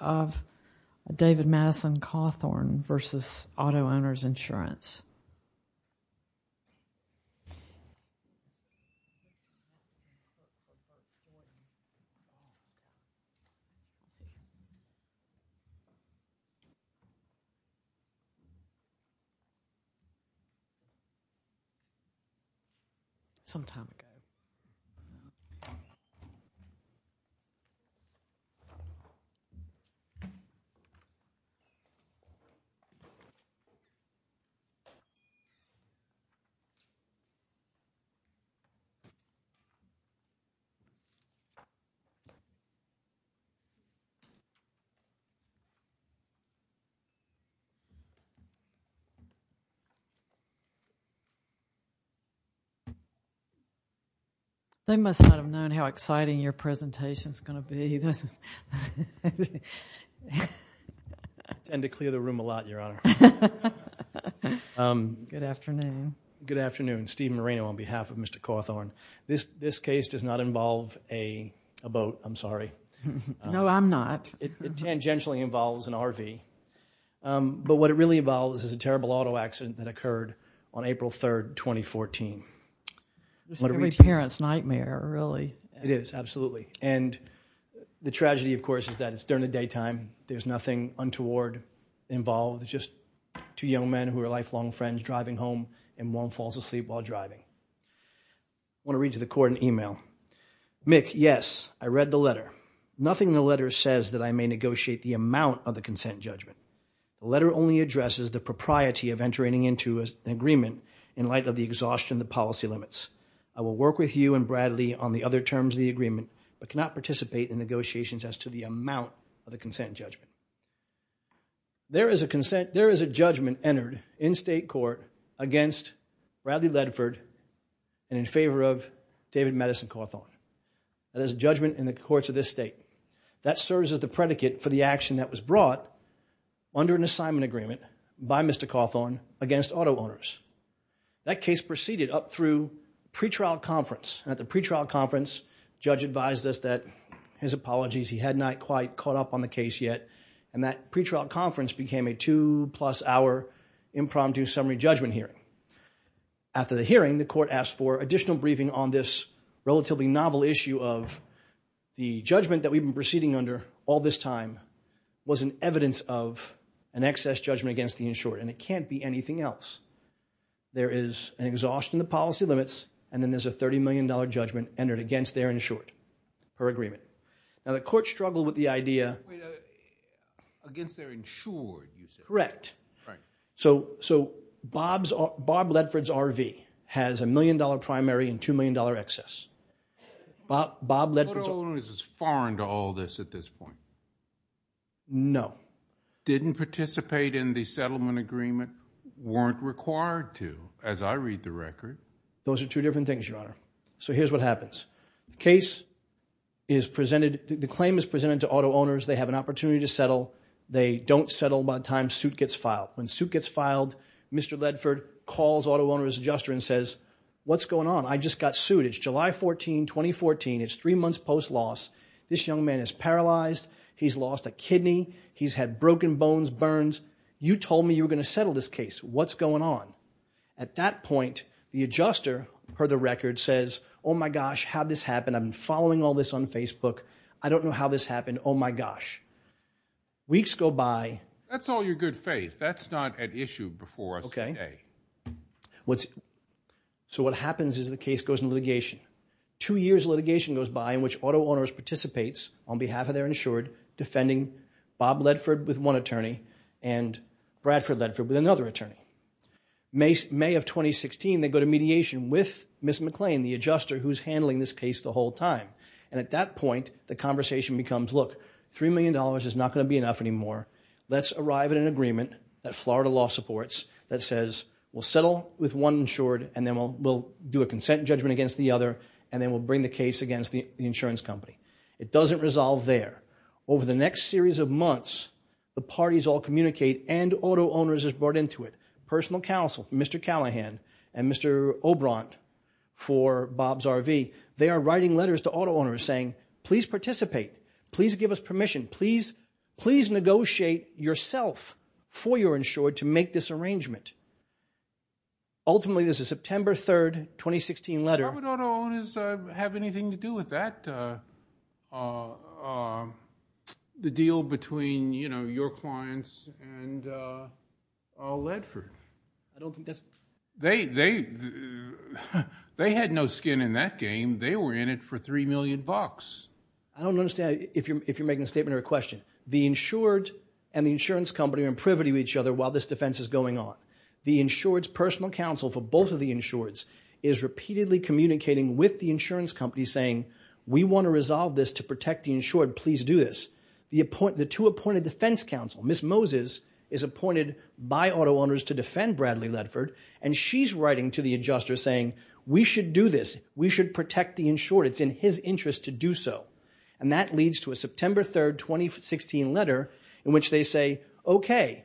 of David Madison Cawthorn v. Auto-Owners Insurance. They must not have known how exciting your presentation is going to be. I tend to clear the room a lot, Your Honor. Good afternoon. Good afternoon. Steve Marino on behalf of Mr. Cawthorn. This case does not involve a boat. I'm sorry. No, I'm not. It tangentially involves an RV. But what it really involves is a terrible auto accident that occurred on April 3rd, 2014. It's going to be a parent's nightmare, really. It is, absolutely. And the tragedy, of course, is that it's during the daytime. There's nothing untoward involved. It's just two young men who are lifelong friends driving home, and one falls asleep while driving. I want to read to the Court an email. Mick, yes, I read the letter. Nothing in the letter says that I may negotiate the amount of the consent judgment. The letter only addresses the propriety of entering into an agreement in light of the exhaustion of the policy limits. I will work with you and Bradley on the other terms of the agreement, but cannot participate in negotiations as to the amount of the consent judgment. There is a judgment entered in state court against Bradley Ledford and in favor of David Madison Cawthorn. That is a judgment in the courts of this state. That serves as the predicate for the action that was brought under an assignment agreement by Mr. Cawthorn against auto owners. That case proceeded up through pretrial conference. At the pretrial conference, judge advised us that his apologies, he had not quite caught up on the case yet, and that pretrial conference became a two-plus-hour impromptu summary judgment hearing. After the hearing, the Court asked for additional briefing on this relatively novel issue of the judgment that we've been proceeding under all this time was an evidence of an excess judgment against the insured, and it can't be anything else. There is an exhaustion of policy limits, and then there's a $30 million judgment entered against their insured, per agreement. Now, the Court struggled with the idea. Against their insured, you said? Correct. Right. So Bob Ledford's RV has a $1 million primary and $2 million excess. Bob Ledford's… The auto owner is foreign to all this at this point. No. Didn't participate in the settlement agreement. Weren't required to, as I read the record. Those are two different things, Your Honor. So here's what happens. Case is presented, the claim is presented to auto owners. They have an opportunity to settle. They don't settle by the time suit gets filed. When suit gets filed, Mr. Ledford calls auto owner's adjuster and says, What's going on? I just got sued. It's July 14, 2014. It's three months post loss. This young man is paralyzed. He's lost a kidney. He's had broken bones, burns. You told me you were going to settle this case. What's going on? At that point, the adjuster, per the record, says, Oh my gosh, how'd this happen? I'm following all this on Facebook. I don't know how this happened. Oh my gosh. Weeks go by. That's all your good faith. That's not at issue before us today. Okay. So what happens is the case goes in litigation. Two years of litigation goes by in which auto owners participates on behalf of their insured defending Bob Ledford with one attorney and Bradford Ledford with another attorney. May of 2016, they go to mediation with Ms. McLean, the adjuster, who's handling this case the whole time. And at that point, the conversation becomes, Look, $3 million is not going to be enough anymore. Let's arrive at an agreement that Florida law supports that says, We'll settle with one insured and then we'll do a consent judgment against the other and then we'll bring the case against the insurance company. It doesn't resolve there. Over the next series of months, the parties all communicate and auto owners are brought into it. Personal counsel, Mr. Callahan and Mr. Obrant for Bob's RV, they are writing letters to auto owners saying, Please participate. Please give us permission. Please negotiate yourself for your insured to make this arrangement. Ultimately, this is September 3, 2016 letter. How would auto owners have anything to do with that? The deal between your clients and Ledford? They had no skin in that game. They were in it for $3 million. I don't understand if you're making a statement or a question. The insured and the insurance company are in privity with each other while this defense is going on. The insured's personal counsel for both of the insureds is repeatedly communicating with the insurance company saying, We want to resolve this to protect the insured. Please do this. The two appointed defense counsel, Ms. Moses, is appointed by auto owners to defend Bradley Ledford and she's writing to the adjuster saying, We should do this. We should protect the insured. It's in his interest to do so. And that leads to a September 3, 2016 letter in which they say, Okay,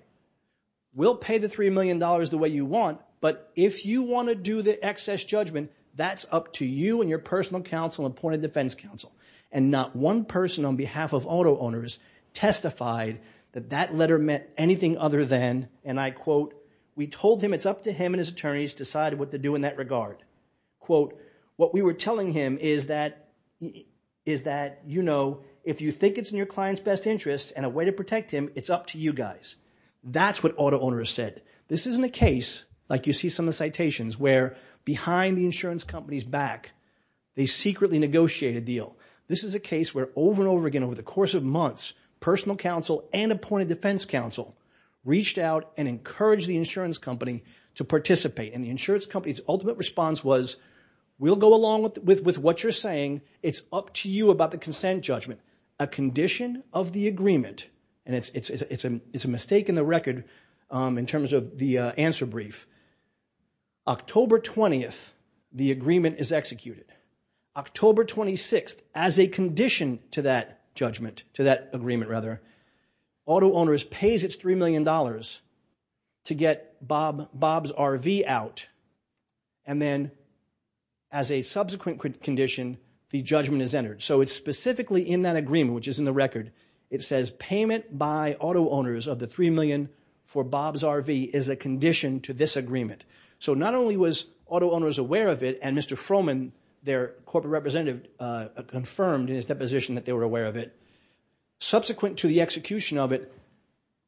we'll pay the $3 million the way you want, but if you want to do the excess judgment, that's up to you and your personal counsel and appointed defense counsel. And not one person on behalf of auto owners testified that that letter meant anything other than, and I quote, We told him it's up to him and his attorneys to decide what to do in that regard. Quote, What we were telling him is that, you know, if you think it's in your client's best interest and a way to protect him, it's up to you guys. That's what auto owners said. This isn't a case, like you see some of the citations, where behind the insurance company's back, they secretly negotiate a deal. This is a case where over and over again over the course of months, personal counsel and appointed defense counsel reached out and encouraged the insurance company to participate. And the insurance company's ultimate response was, We'll go along with what you're saying. It's up to you about the consent judgment. A condition of the agreement, and it's a mistake in the record in terms of the answer brief. October 20th, the agreement is executed. October 26th, as a condition to that judgment, to that agreement rather, auto owners pays its $3 million to get Bob's RV out, and then as a subsequent condition, the judgment is entered. So it's specifically in that agreement, which is in the record. It says payment by auto owners of the $3 million for Bob's RV is a condition to this agreement. So not only was auto owners aware of it, and Mr. Froman, their corporate representative, confirmed in his deposition that they were aware of it. Subsequent to the execution of it,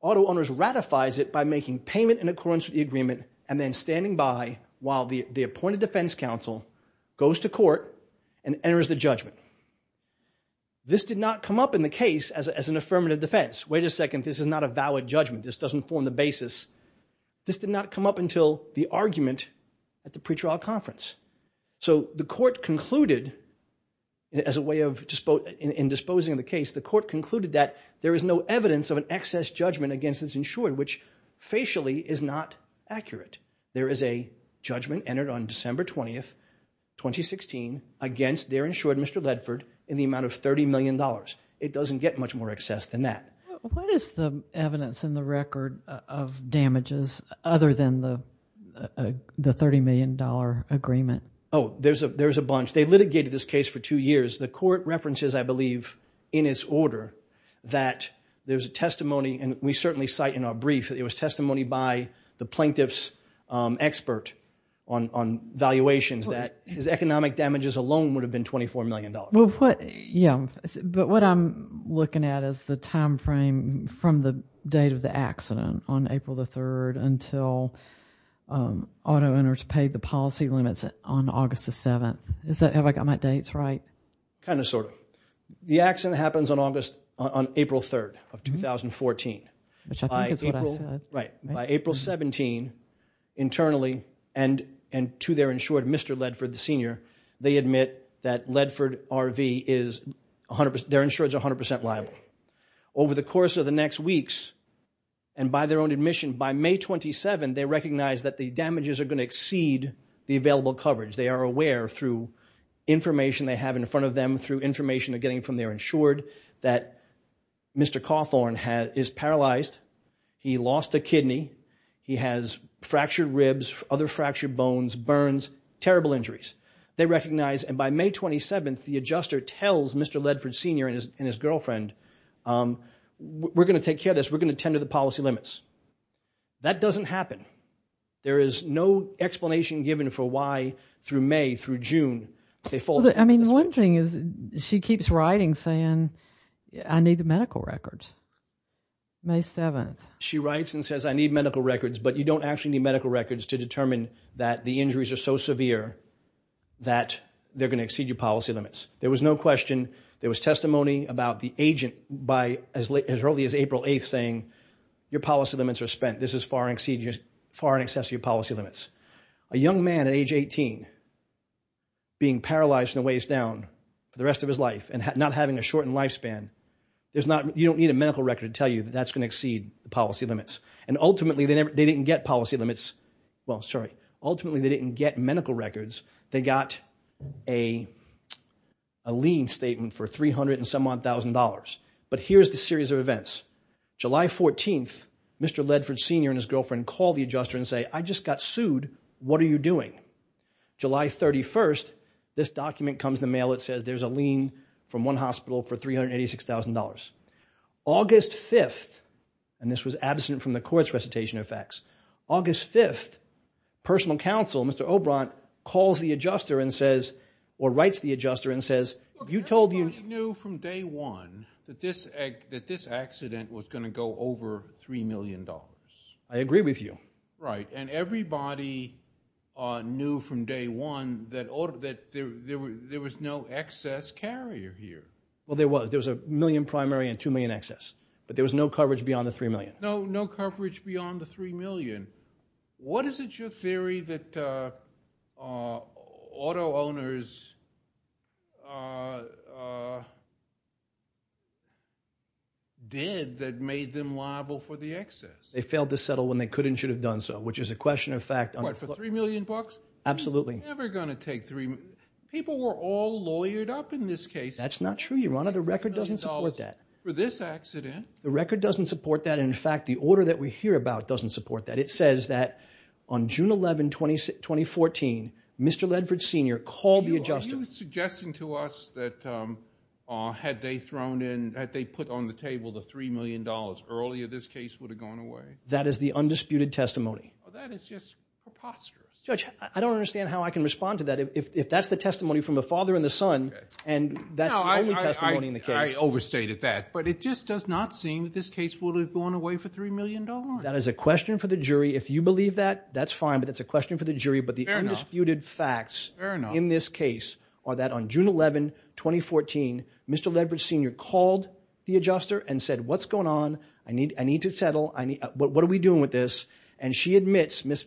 auto owners ratifies it by making payment in accordance with the agreement and then standing by while the appointed defense counsel goes to court and enters the judgment. This did not come up in the case as an affirmative defense. Wait a second, this is not a valid judgment. This doesn't form the basis. This did not come up until the argument at the pretrial conference. So the court concluded, as a way of disposing of the case, the court concluded that there is no evidence of an excess judgment against this insured, which facially is not accurate. There is a judgment entered on December 20th, 2016, against their insured, Mr. Ledford, in the amount of $30 million. It doesn't get much more excess than that. What is the evidence in the record of damages other than the $30 million agreement? Oh, there's a bunch. They litigated this case for two years. The court references, I believe, in its order, that there's a testimony, and we certainly cite in our brief, that it was testimony by the plaintiff's expert on valuations that his economic damages alone would have been $24 million. Yeah, but what I'm looking at is the time frame from the date of the accident on April 3rd until auto owners paid the policy limits on August 7th. Have I got my dates right? Kind of, sort of. The accident happens on April 3rd of 2014. Which I think is what I said. Right, by April 17, internally, and to their insured, Mr. Ledford, the senior, they admit that Ledford RV, their insured's 100% liable. Over the course of the next weeks, and by their own admission, by May 27, they recognize that the damages are going to exceed the available coverage. They are aware, through information they have in front of them, through information they're getting from their insured, that Mr. Cawthorn is paralyzed. He lost a kidney. He has fractured ribs, other fractured bones, burns, terrible injuries. They recognize, and by May 27, the adjuster tells Mr. Ledford, senior, and his girlfriend, we're going to take care of this. We're going to tend to the policy limits. That doesn't happen. There is no explanation given for why, through May, through June, they fall into this situation. I mean, one thing is she keeps writing saying, I need the medical records. May 7th. She writes and says, I need medical records, but you don't actually need medical records to determine that the injuries are so severe that they're going to exceed your policy limits. There was no question, there was testimony about the agent as early as April 8th saying, your policy limits are spent. This is far in excess of your policy limits. A young man at age 18, being paralyzed and a ways down for the rest of his life and not having a shortened lifespan, you don't need a medical record to tell you that that's going to exceed the policy limits. And ultimately, they didn't get policy limits. Well, sorry. Ultimately, they didn't get medical records. They got a lien statement for 300 and some odd thousand dollars. But here's the series of events. July 14th, Mr. Ledford, senior, and his girlfriend call the adjuster and say, I just got sued. What are you doing? July 31st, this document comes in the mail that says there's a lien from one hospital for $386,000. August 5th, and this was absent from the court's recitation of facts, August 5th, personal counsel, Mr. Obrant, calls the adjuster and says, or writes the adjuster and says, you told you... Everybody knew from day one that this accident was going to go over $3 million. I agree with you. Right, and everybody knew from day one that there was no excess carrier here. Well, there was. There was a million primary and 2 million excess. But there was no coverage beyond the 3 million. No coverage beyond the 3 million. What is it, your theory, that auto owners did that made them liable for the excess? They failed to settle when they could and should have done so, which is a question of fact... What, for 3 million bucks? Absolutely. People were all lawyered up in this case. That's not true, your honor. The record doesn't support that. For this accident. The record doesn't support that. In fact, the order that we hear about doesn't support that. It says that on June 11, 2014, Mr. Ledford Sr. called the adjuster. Are you suggesting to us that had they put on the table the $3 million earlier, this case would have gone away? That is the undisputed testimony. Well, that is just preposterous. Judge, I don't understand how I can respond to that if that's the testimony from the father and the son and that's the only testimony in the case. I overstated that. But it just does not seem that this case would have gone away for $3 million. That is a question for the jury. If you believe that, that's fine. But that's a question for the jury. Fair enough. But the undisputed facts in this case are that on June 11, 2014, Mr. Ledford Sr. called the adjuster and said, What's going on? I need to settle. What are we doing with this? And she admits, Ms.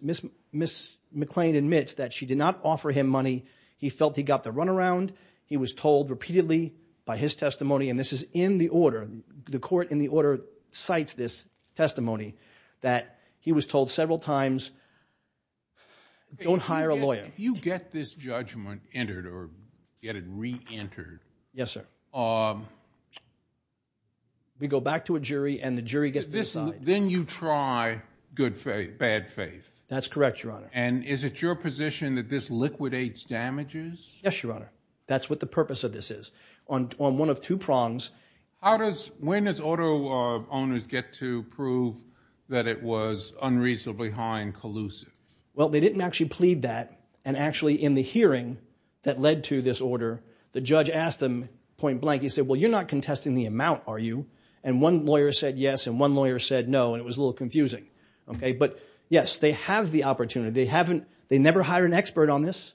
McClain admits, that she did not offer him money. He felt he got the runaround. He was told repeatedly by his testimony, and this is in the order, the court in the order cites this testimony, that he was told several times, Don't hire a lawyer. If you get this judgment entered or get it reentered. Yes, sir. We go back to a jury and the jury gets to decide. Then you try good faith, bad faith. That's correct, Your Honor. And is it your position that this liquidates damages? Yes, Your Honor. That's what the purpose of this is. On one of two prongs. How does, when does auto owners get to prove that it was unreasonably high and collusive? Well, they didn't actually plead that, and actually in the hearing that led to this order, the judge asked them point blank. He said, Well, you're not contesting the amount, are you? And one lawyer said yes, and one lawyer said no, and it was a little confusing. But yes, they have the opportunity. They never hire an expert on this.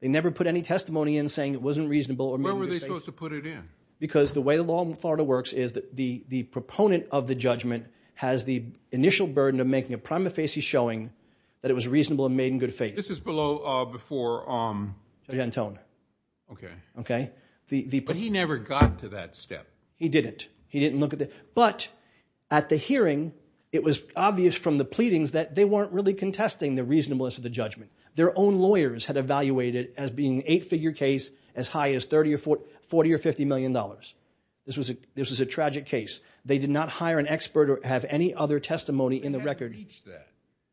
They never put any testimony in saying it wasn't reasonable. When were they supposed to put it in? Because the way the law in Florida works is the proponent of the judgment has the initial burden of making a prima facie showing that it was reasonable and made in good faith. This is below, before. Gentone. Okay. But he never got to that step. He didn't. He didn't look at the, but at the hearing, it was obvious from the pleadings that they weren't really contesting the reasonableness of the judgment. Their own lawyers had evaluated it as being an eight-figure case as high as $30 or $40 or $50 million. This was a tragic case. They did not hire an expert or have any other testimony in the record. You can't reach that.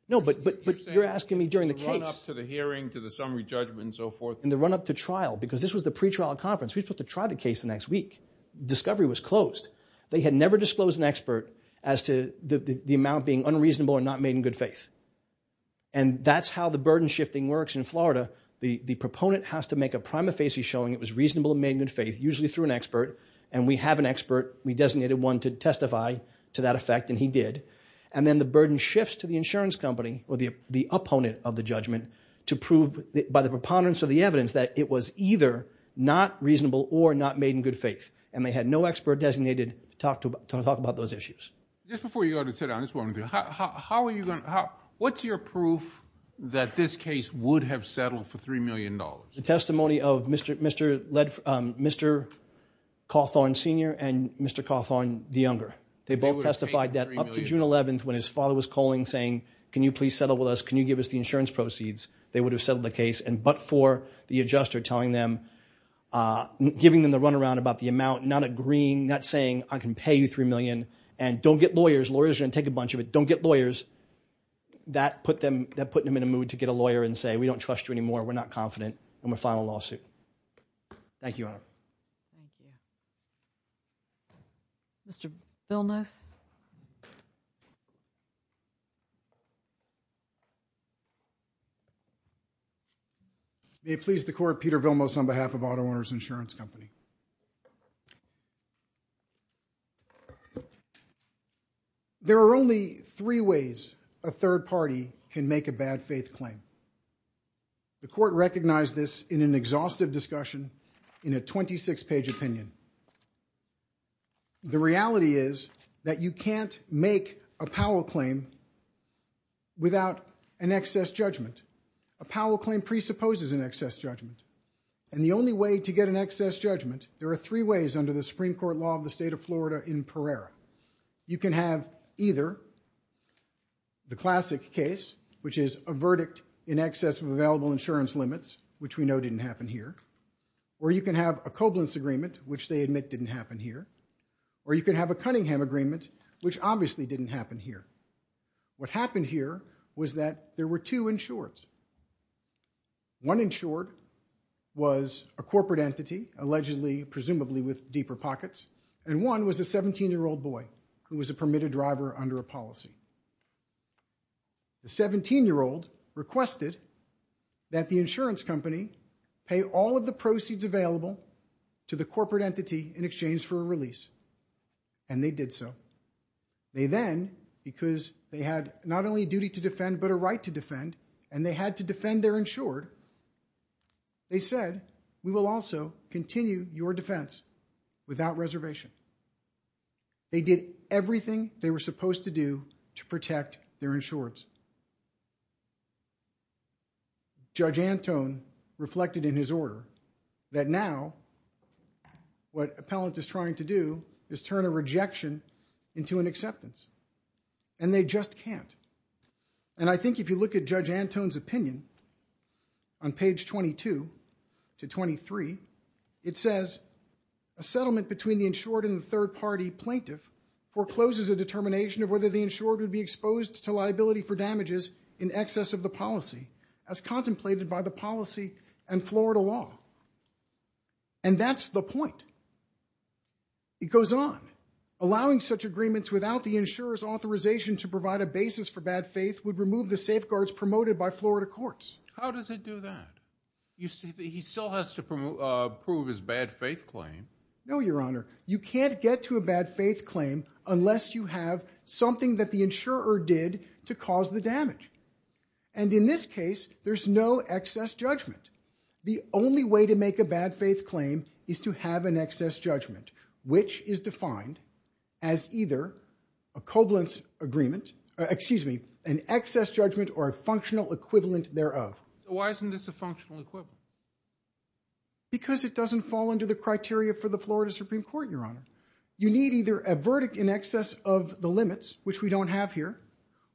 No, but you're asking me during the case. You're saying in the run-up to the hearing, to the summary judgment and so forth. In the run-up to trial, because this was the pretrial conference. We were supposed to try the case the next week. Discovery was closed. They had never disclosed an expert as to the amount being unreasonable or not made in good faith. And that's how the burden shifting works in Florida. The proponent has to make a prima facie showing it was reasonable and made in good faith, usually through an expert, and we have an expert. We designated one to testify to that effect, and he did. And then the burden shifts to the insurance company or the opponent of the judgment to prove by the preponderance of the evidence that it was either not reasonable or not made in good faith. And they had no expert designated to talk about those issues. Just before you go to sit down, I just want to know, how are you going to... What's your proof that this case would have settled for $3 million? The testimony of Mr. Cawthorn Sr. and Mr. Cawthorn, the younger. They both testified that up to June 11th when his father was calling saying, can you please settle with us? Can you give us the insurance proceeds? They would have settled the case, but for the adjuster telling them, giving them the runaround about the amount, not agreeing, not saying, I can pay you $3 million, and don't get lawyers. Lawyers are going to take a bunch of it. Don't get lawyers. That put them in a mood to get a lawyer and say, we don't trust you anymore, we're not confident, and we'll file a lawsuit. Thank you, Your Honor. Mr. Villeneuve? May it please the court, Peter Villeneuve on behalf of Auto Owners Insurance Company. There are only three ways a third party can make a bad faith claim. The court recognized this in an exhaustive discussion, in a 26-page opinion. The reality is that you can't make a Powell claim without an excess judgment. A Powell claim presupposes an excess judgment. And the only way to get an excess judgment, there are three ways under the Supreme Court law of the state of Florida in Pereira. You can have either the classic case, which is a verdict in excess of available insurance limits, which we know didn't happen here. Or you can have a Koblenz agreement, which they admit didn't happen here. Or you can have a Cunningham agreement, which obviously didn't happen here. What happened here was that there were two insureds. One insured was a corporate entity, allegedly, presumably with deeper pockets, and one was a 17-year-old boy who was a permitted driver under a policy. The 17-year-old requested that the insurance company pay all of the proceeds available to the corporate entity in exchange for a release. And they did so. They then, because they had not only a duty to defend, but a right to defend, and they had to defend their insured, they said, we will also continue your defense without reservation. They did everything they were supposed to do to protect their insureds. Judge Antone reflected in his order that now what appellant is trying to do is turn a rejection into an acceptance. And they just can't. And I think if you look at Judge Antone's opinion, on page 22 to 23, it says, a settlement between the insured and the third-party plaintiff forecloses a determination of whether the insured would be exposed to liability for damages in excess of the policy, as contemplated by the policy and Florida law. And that's the point. It goes on. Allowing such agreements without the insurer's authorization to provide a basis for bad faith would remove the safeguards promoted by Florida courts. How does it do that? He still has to prove his bad faith claim. No, Your Honor. You can't get to a bad faith claim unless you have something that the insurer did to cause the damage. And in this case, there's no excess judgment. The only way to make a bad faith claim is to have an excess judgment, which is defined as either a coblance agreement, excuse me, an excess judgment or a functional equivalent thereof. Why isn't this a functional equivalent? Because it doesn't fall under the criteria for the Florida Supreme Court, Your Honor. You need either a verdict in excess of the limits, which we don't have here,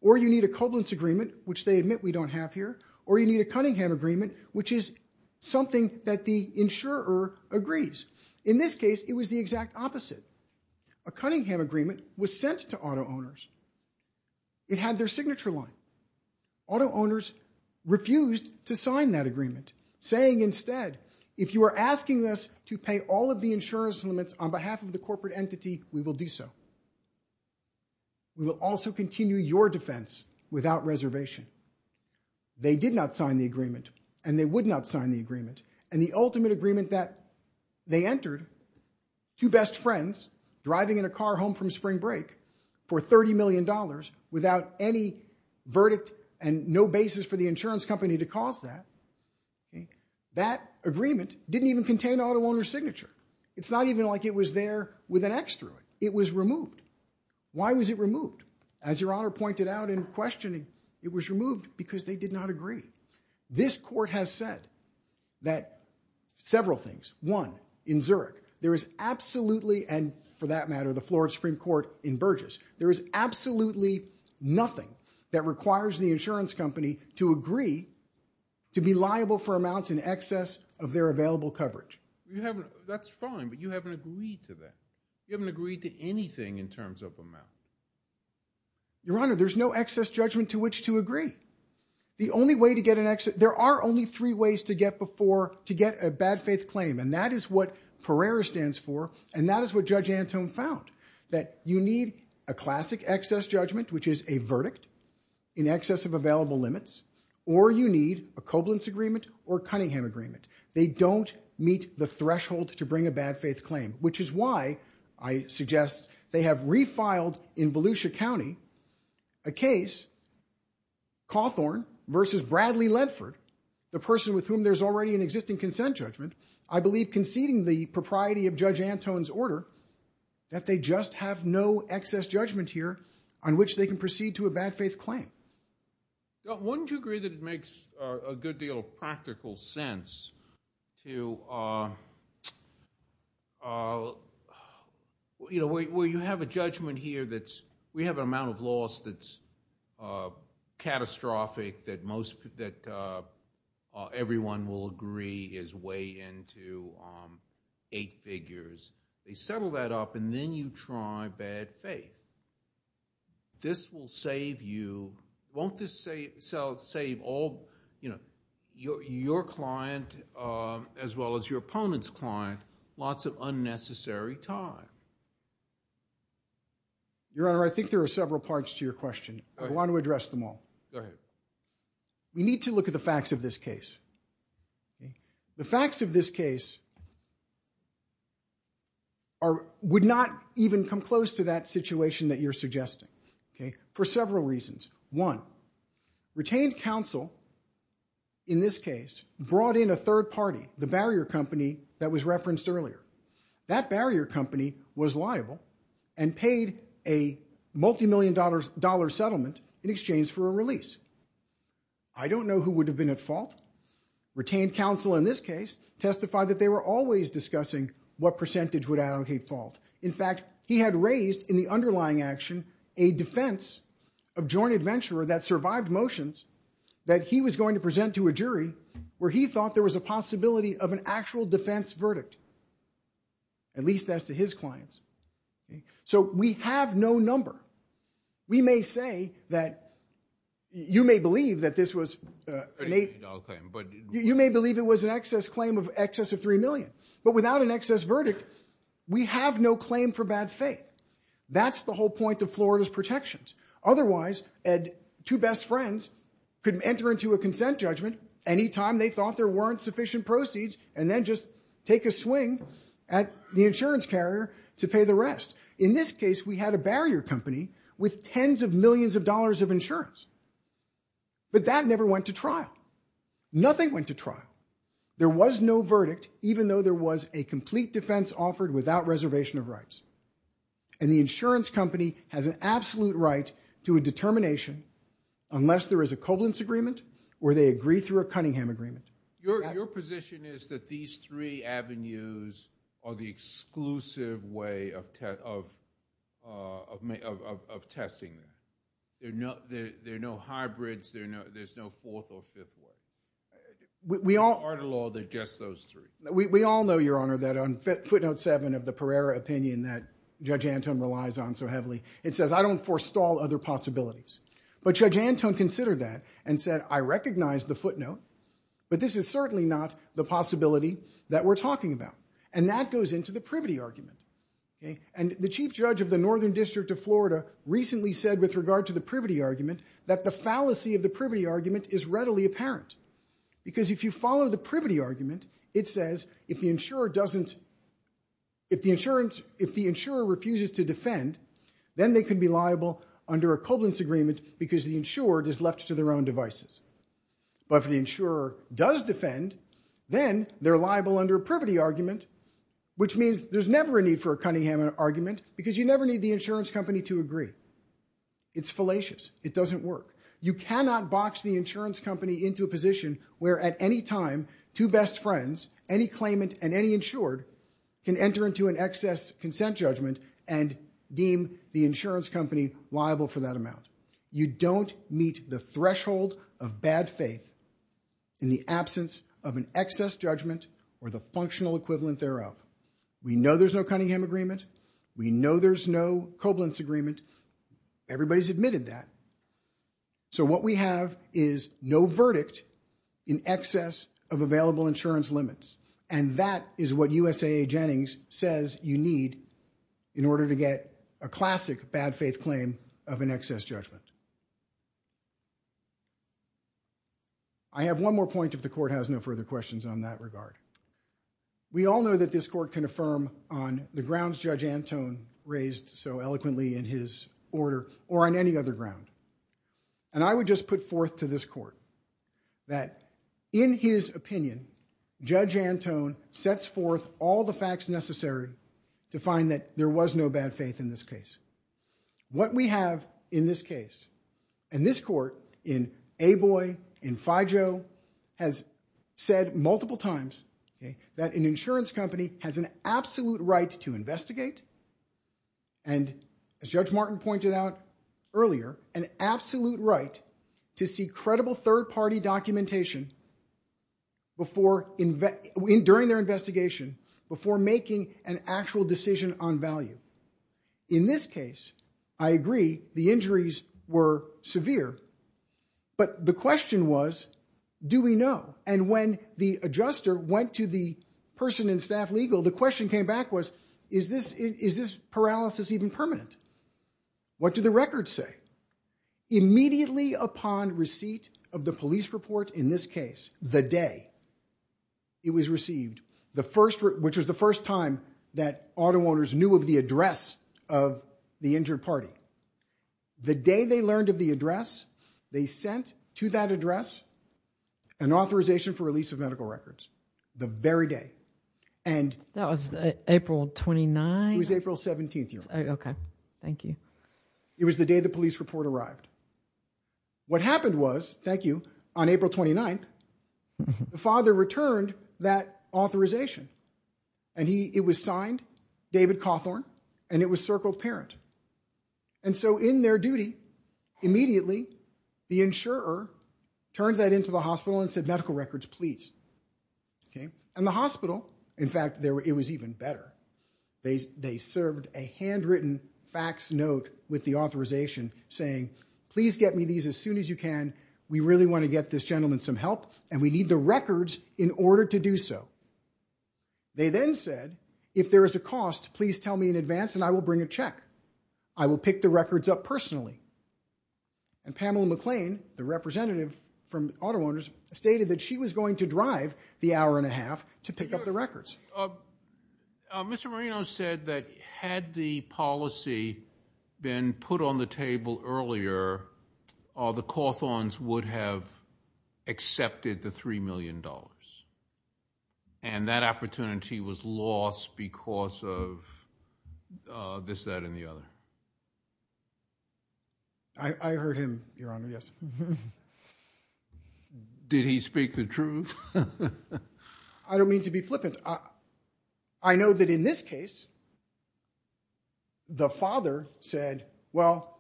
or you need a coblance agreement, which they admit we don't have here, or you need a Cunningham agreement, which is something that the insurer agrees. In this case, it was the exact opposite. A Cunningham agreement was sent to auto owners. It had their signature line. Auto owners refused to sign that agreement, saying instead, if you are asking us to pay all of the insurance limits on behalf of the corporate entity, we will do so. We will also continue your defense without reservation. They did not sign the agreement, and they would not sign the agreement, and the ultimate agreement that they entered, two best friends driving in a car home from spring break for $30 million without any verdict and no basis for the insurance company to cause that, that agreement didn't even contain auto owner's signature. It's not even like it was there with an X through it. It was removed. Why was it removed? As Your Honor pointed out in questioning, it was removed because they did not agree. This court has said that several things. One, in Zurich, there is absolutely, and for that matter, the floor of Supreme Court in Burgess, there is absolutely nothing that requires the insurance company to agree to be liable for amounts in excess of their available coverage. You haven't, that's fine, but you haven't agreed to that. You haven't agreed to anything in terms of amount. Your Honor, there's no excess judgment to which to agree. The only way to get an excess, there are only three ways to get a bad faith claim, and that is what Pereira stands for, and that is what Judge Antone found, that you need a classic excess judgment, which is a verdict in excess of available limits, or you need a Koblenz agreement or Cunningham agreement. They don't meet the threshold to bring a bad faith claim, which is why I suggest they have refiled in Volusia County a case, Cawthorn v. Bradley Ledford, the person with whom there's already an existing consent judgment, I believe conceding the propriety of Judge Antone's order that they just have no excess judgment here on which they can proceed to a bad faith claim. Wouldn't you agree that it makes a good deal of practical sense to, you know, where you have a judgment here that's... we have an amount of loss that's catastrophic, that everyone will agree is way into eight figures. They settle that up, and then you try bad faith. This will save you... Won't this save all... your client as well as your opponent's client lots of unnecessary time? Your Honor, I think there are several parts to your question. I want to address them all. We need to look at the facts of this case. The facts of this case would not even come close to that situation that you're suggesting for several reasons. One, retained counsel in this case brought in a third party, the barrier company that was referenced earlier. That barrier company was liable and paid a multimillion-dollar settlement in exchange for a release. I don't know who would have been at fault. Retained counsel in this case testified that they were always discussing what percentage would allocate fault. In fact, he had raised in the underlying action a defense of joint adventurer that survived motions that he was going to present to a jury where he thought there was a possibility of an actual defense verdict, at least as to his clients. So we have no number. We may say that... You may believe that this was... You may believe it was an excess claim of excess of three million, but without an excess verdict, we have no claim for bad faith. That's the whole point of Florida's protections. Otherwise, two best friends could enter into a consent judgment any time they thought there weren't sufficient proceeds and then just take a swing at the insurance carrier to pay the rest. In this case, we had a barrier company with tens of millions of dollars of insurance. But that never went to trial. Nothing went to trial. There was no verdict, even though there was a complete defense that was offered without reservation of rights. And the insurance company has an absolute right to a determination unless there is a Koblentz agreement or they agree through a Cunningham agreement. Your position is that these three avenues are the exclusive way of testing them. There are no hybrids. There's no fourth or fifth way. In Florida law, they're just those three. We all know, Your Honor, that on footnote 7 of the Pereira opinion that Judge Anton relies on so heavily, it says, I don't forestall other possibilities. But Judge Anton considered that and said, I recognize the footnote, but this is certainly not the possibility that we're talking about. And that goes into the privity argument. And the chief judge of the Northern District of Florida recently said with regard to the privity argument that the fallacy of the privity argument is readily apparent. Because if you follow the privity argument, it says if the insurer refuses to defend, then they can be liable under a Koblentz agreement because the insured is left to their own devices. But if the insurer does defend, then they're liable under a privity argument, which means there's never a need for a Cunningham argument because you never need the insurance company to agree. It's fallacious. It doesn't work. You cannot box the insurance company into a position where at any time two best friends, any claimant and any insured, can enter into an excess consent judgment and deem the insurance company liable for that amount. You don't meet the threshold of bad faith in the absence of an excess judgment or the functional equivalent thereof. We know there's no Cunningham agreement. We know there's no Koblentz agreement. Everybody's admitted that. So what we have is no verdict in excess of available insurance limits, and that is what USAA Jennings says you need in order to get a classic bad faith claim of an excess judgment. I have one more point, if the court has no further questions on that regard. We all know that this court can affirm on the grounds Judge Antone raised so eloquently in his order or on any other ground. And I would just put forth to this court that in his opinion, Judge Antone sets forth all the facts necessary to find that there was no bad faith in this case. What we have in this case, and this court in Aboy, in FIJO, has said multiple times that an insurance company has an absolute right to investigate, and as Judge Martin pointed out earlier, an absolute right to see credible third party documentation during their investigation before making an actual decision on value. In this case, I agree, the injuries were severe, but the question was, do we know? And when the adjuster went to the person in staff legal, the question came back was, is this paralysis even permanent? What do the records say? Immediately upon receipt of the police report in this case, the day it was received, which was the first time that auto owners knew of the address of the injured party, the day they learned of the address, they sent to that address an authorization for release of medical records. The very day. That was April 29th? It was April 17th. Okay, thank you. It was the day the police report arrived. What happened was, thank you, on April 29th, the father returned that authorization, and it was signed David Cawthorn, and it was circled parent. And so in their duty, immediately the insurer turned that into the hospital and said, medical records, please. And the hospital, in fact, it was even better. They served a handwritten fax note with the authorization saying, please get me these as soon as you can. We really want to get this gentleman some help, and we need the records in order to do so. They then said, if there is a cost, please tell me in advance and I will bring a check. I will pick the records up personally. And Pamela McLean, the representative from auto owners, stated that she was going to drive the hour and a half to pick up the records. Mr. Marino said that had the policy been put on the table earlier, the Cawthorns would have accepted the $3 million. And that opportunity was lost because of this, that, and the other. I heard him, Your Honor, yes. Did he speak the truth? I don't mean to be flippant. I know that in this case, the father said, well,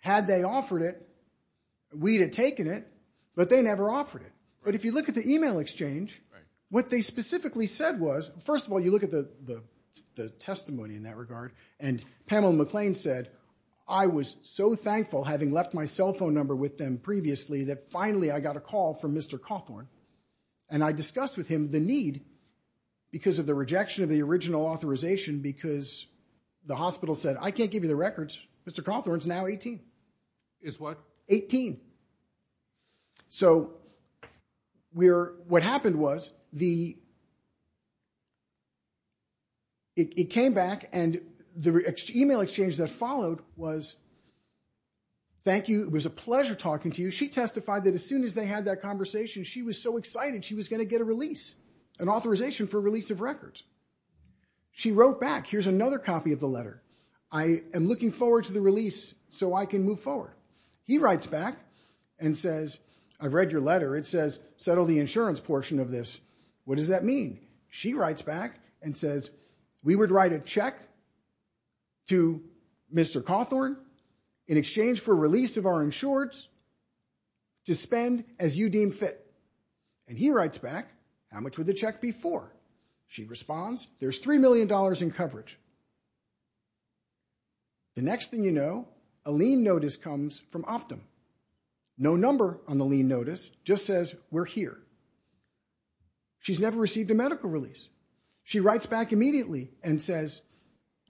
had they offered it, we'd have taken it, but they never offered it. But if you look at the email exchange, what they specifically said was, first of all, you look at the testimony in that regard, and Pamela McLean said, I was so thankful having left my cell phone number with them previously that finally I got a call from Mr. Cawthorn. And I discussed with him the need, because of the rejection of the original authorization, because the hospital said, I can't give you the records. Mr. Cawthorn's now 18. Is what? 18. So what happened was, it came back, and the email exchange that followed was, thank you, it was a pleasure talking to you. She testified that as soon as they had that conversation, she was so excited she was going to get a release, an authorization for release of records. She wrote back, here's another copy of the letter. I am looking forward to the release so I can move forward. He writes back and says, I've read your letter. It says, settle the insurance portion of this. What does that mean? She writes back and says, we would write a check to Mr. Cawthorn in exchange for release of our insureds to spend as you deem fit. And he writes back, how much was the check before? She responds, there's $3 million in coverage. The next thing you know, a lien notice comes from Optum. No number on the lien notice, just says, we're here. She's never received a medical release. She writes back immediately and says,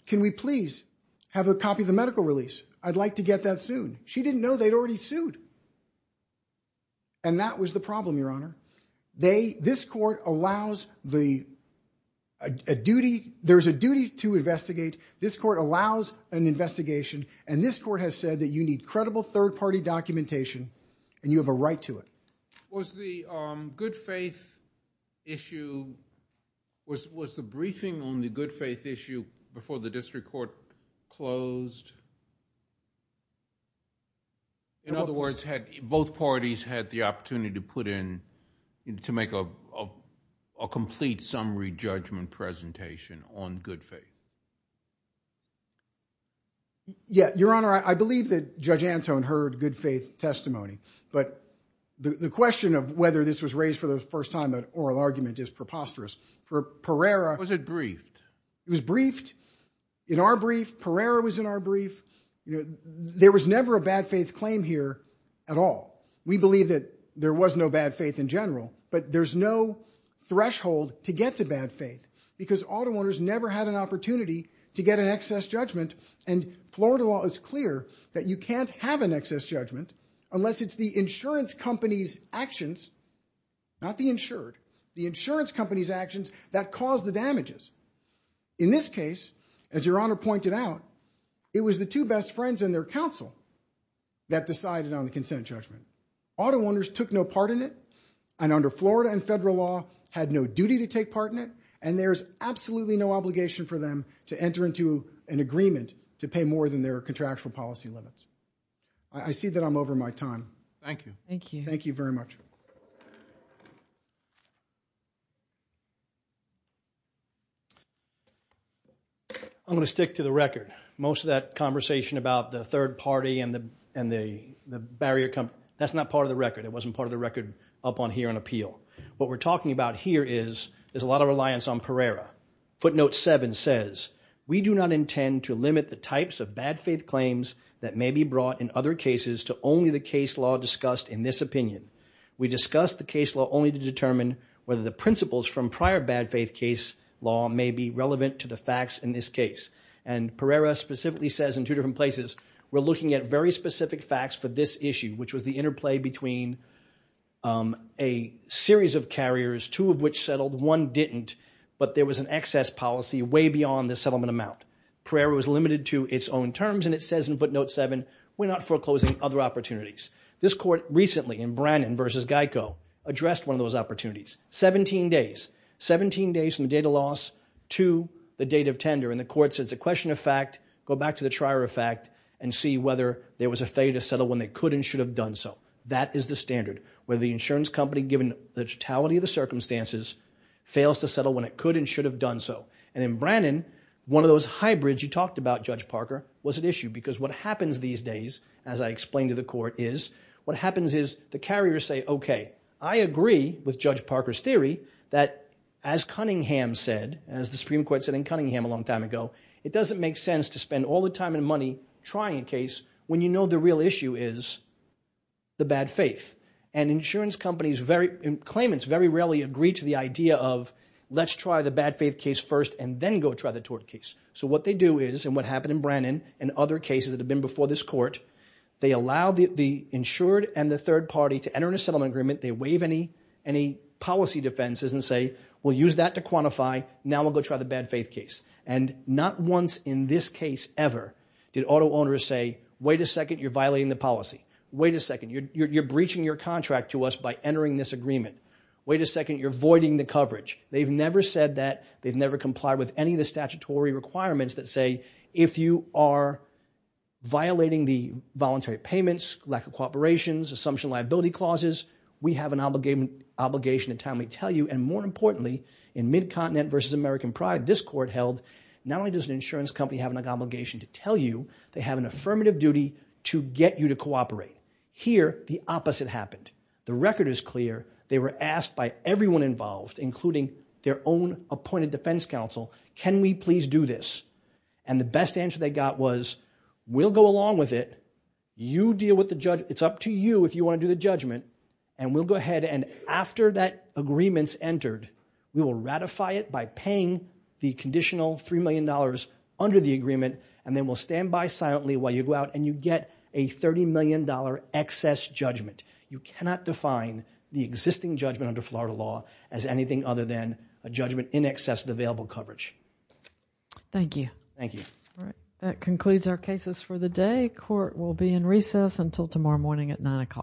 can we please have a copy of the medical release? I'd like to get that soon. She didn't know they'd already sued. And that was the problem, Your Honor. This court allows the duty, there's a duty to investigate. This court allows an investigation. And this court has said that you need credible third-party documentation and you have a right to it. Was the good faith issue, was the briefing on the good faith issue before the district court closed? In other words, both parties had the opportunity to put in, to make a complete summary judgment presentation on good faith. Yeah, Your Honor, I believe that Judge Antone heard good faith testimony. But the question of whether this was raised for the first time in an oral argument is preposterous. For Pereira. Was it briefed? It was briefed. In our brief, Pereira was in our brief. There was never a bad faith claim here at all. We believe that there was no bad faith in general. But there's no threshold to get to bad faith. Because auto owners never had an opportunity to get an excess judgment. And Florida law is clear that you can't have an excess judgment unless it's the insurance company's actions, not the insured, the insurance company's actions that caused the damages. In this case, as Your Honor pointed out, it was the two best friends and their counsel that decided on the consent judgment. Auto owners took no part in it. And under Florida and federal law, had no duty to take part in it. And there's absolutely no obligation for them to enter into an agreement to pay more than their contractual policy limits. I see that I'm over my time. Thank you. Thank you. Thank you very much. I'm going to stick to the record. Most of that conversation about the third party and the barrier company, that's not part of the record. It wasn't part of the record up on here on appeal. What we're talking about here is there's a lot of reliance on Pereira. Footnote 7 says, we do not intend to limit the types of bad faith claims that may be brought in other cases to only the case law discussed in this opinion. We discuss the case law only to determine whether the principles from prior bad faith case law may be relevant to the facts in this case. And Pereira specifically says in two different places, we're looking at very specific facts for this issue, which was the interplay between a series of carriers, two of which settled, one didn't, but there was an excess policy way beyond the settlement amount. Pereira was limited to its own terms, and it says in footnote 7, we're not foreclosing other opportunities. This court recently in Brannon v. Geico addressed one of those opportunities. 17 days. 17 days from the date of loss to the date of tender, and the court says it's a question of fact, go back to the trier of fact, and see whether there was a failure to settle when they could and should have done so. That is the standard, whether the insurance company, given the totality of the circumstances, fails to settle when it could and should have done so. And in Brannon, one of those hybrids you talked about, Judge Parker, was an issue, because what happens these days, as I explained to the court, is what happens is the carriers say, okay, I agree with Judge Parker's theory that as Cunningham said, as the Supreme Court said in Cunningham a long time ago, it doesn't make sense to spend all the time and money trying a case when you know the real issue is the bad faith. And insurance companies, claimants very rarely agree to the idea of let's try the bad faith case first and then go try the tort case. So what they do is, and what happened in Brannon and other cases that have been before this court, they allow the insured and the third party to enter into a settlement agreement, they waive any policy defenses and say, we'll use that to quantify, now we'll go try the bad faith case. And not once in this case ever did auto owners say, wait a second, you're violating the policy. Wait a second, you're breaching your contract to us by entering this agreement. Wait a second, you're voiding the coverage. They've never said that. They've never complied with any of the statutory requirements that say if you are violating the voluntary payments, lack of cooperations, assumption liability clauses, we have an obligation to timely tell you. And more importantly, in Mid-Continent versus American Pride, this court held not only does an insurance company have an obligation to tell you, they have an affirmative duty to get you to cooperate. Here, the opposite happened. The record is clear. They were asked by everyone involved, including their own appointed defense counsel, can we please do this? And the best answer they got was, we'll go along with it. You deal with the judgment. It's up to you if you want to do the judgment. And we'll go ahead and after that agreement's entered, we will ratify it by paying the conditional $3 million under the agreement, and then we'll stand by silently while you go out and you get a $30 million excess judgment. You cannot define the existing judgment under Florida law as anything other than a judgment in excess of the available coverage. Thank you. Thank you. All right, that concludes our cases for the day. Court will be in recess until tomorrow morning at 9 o'clock.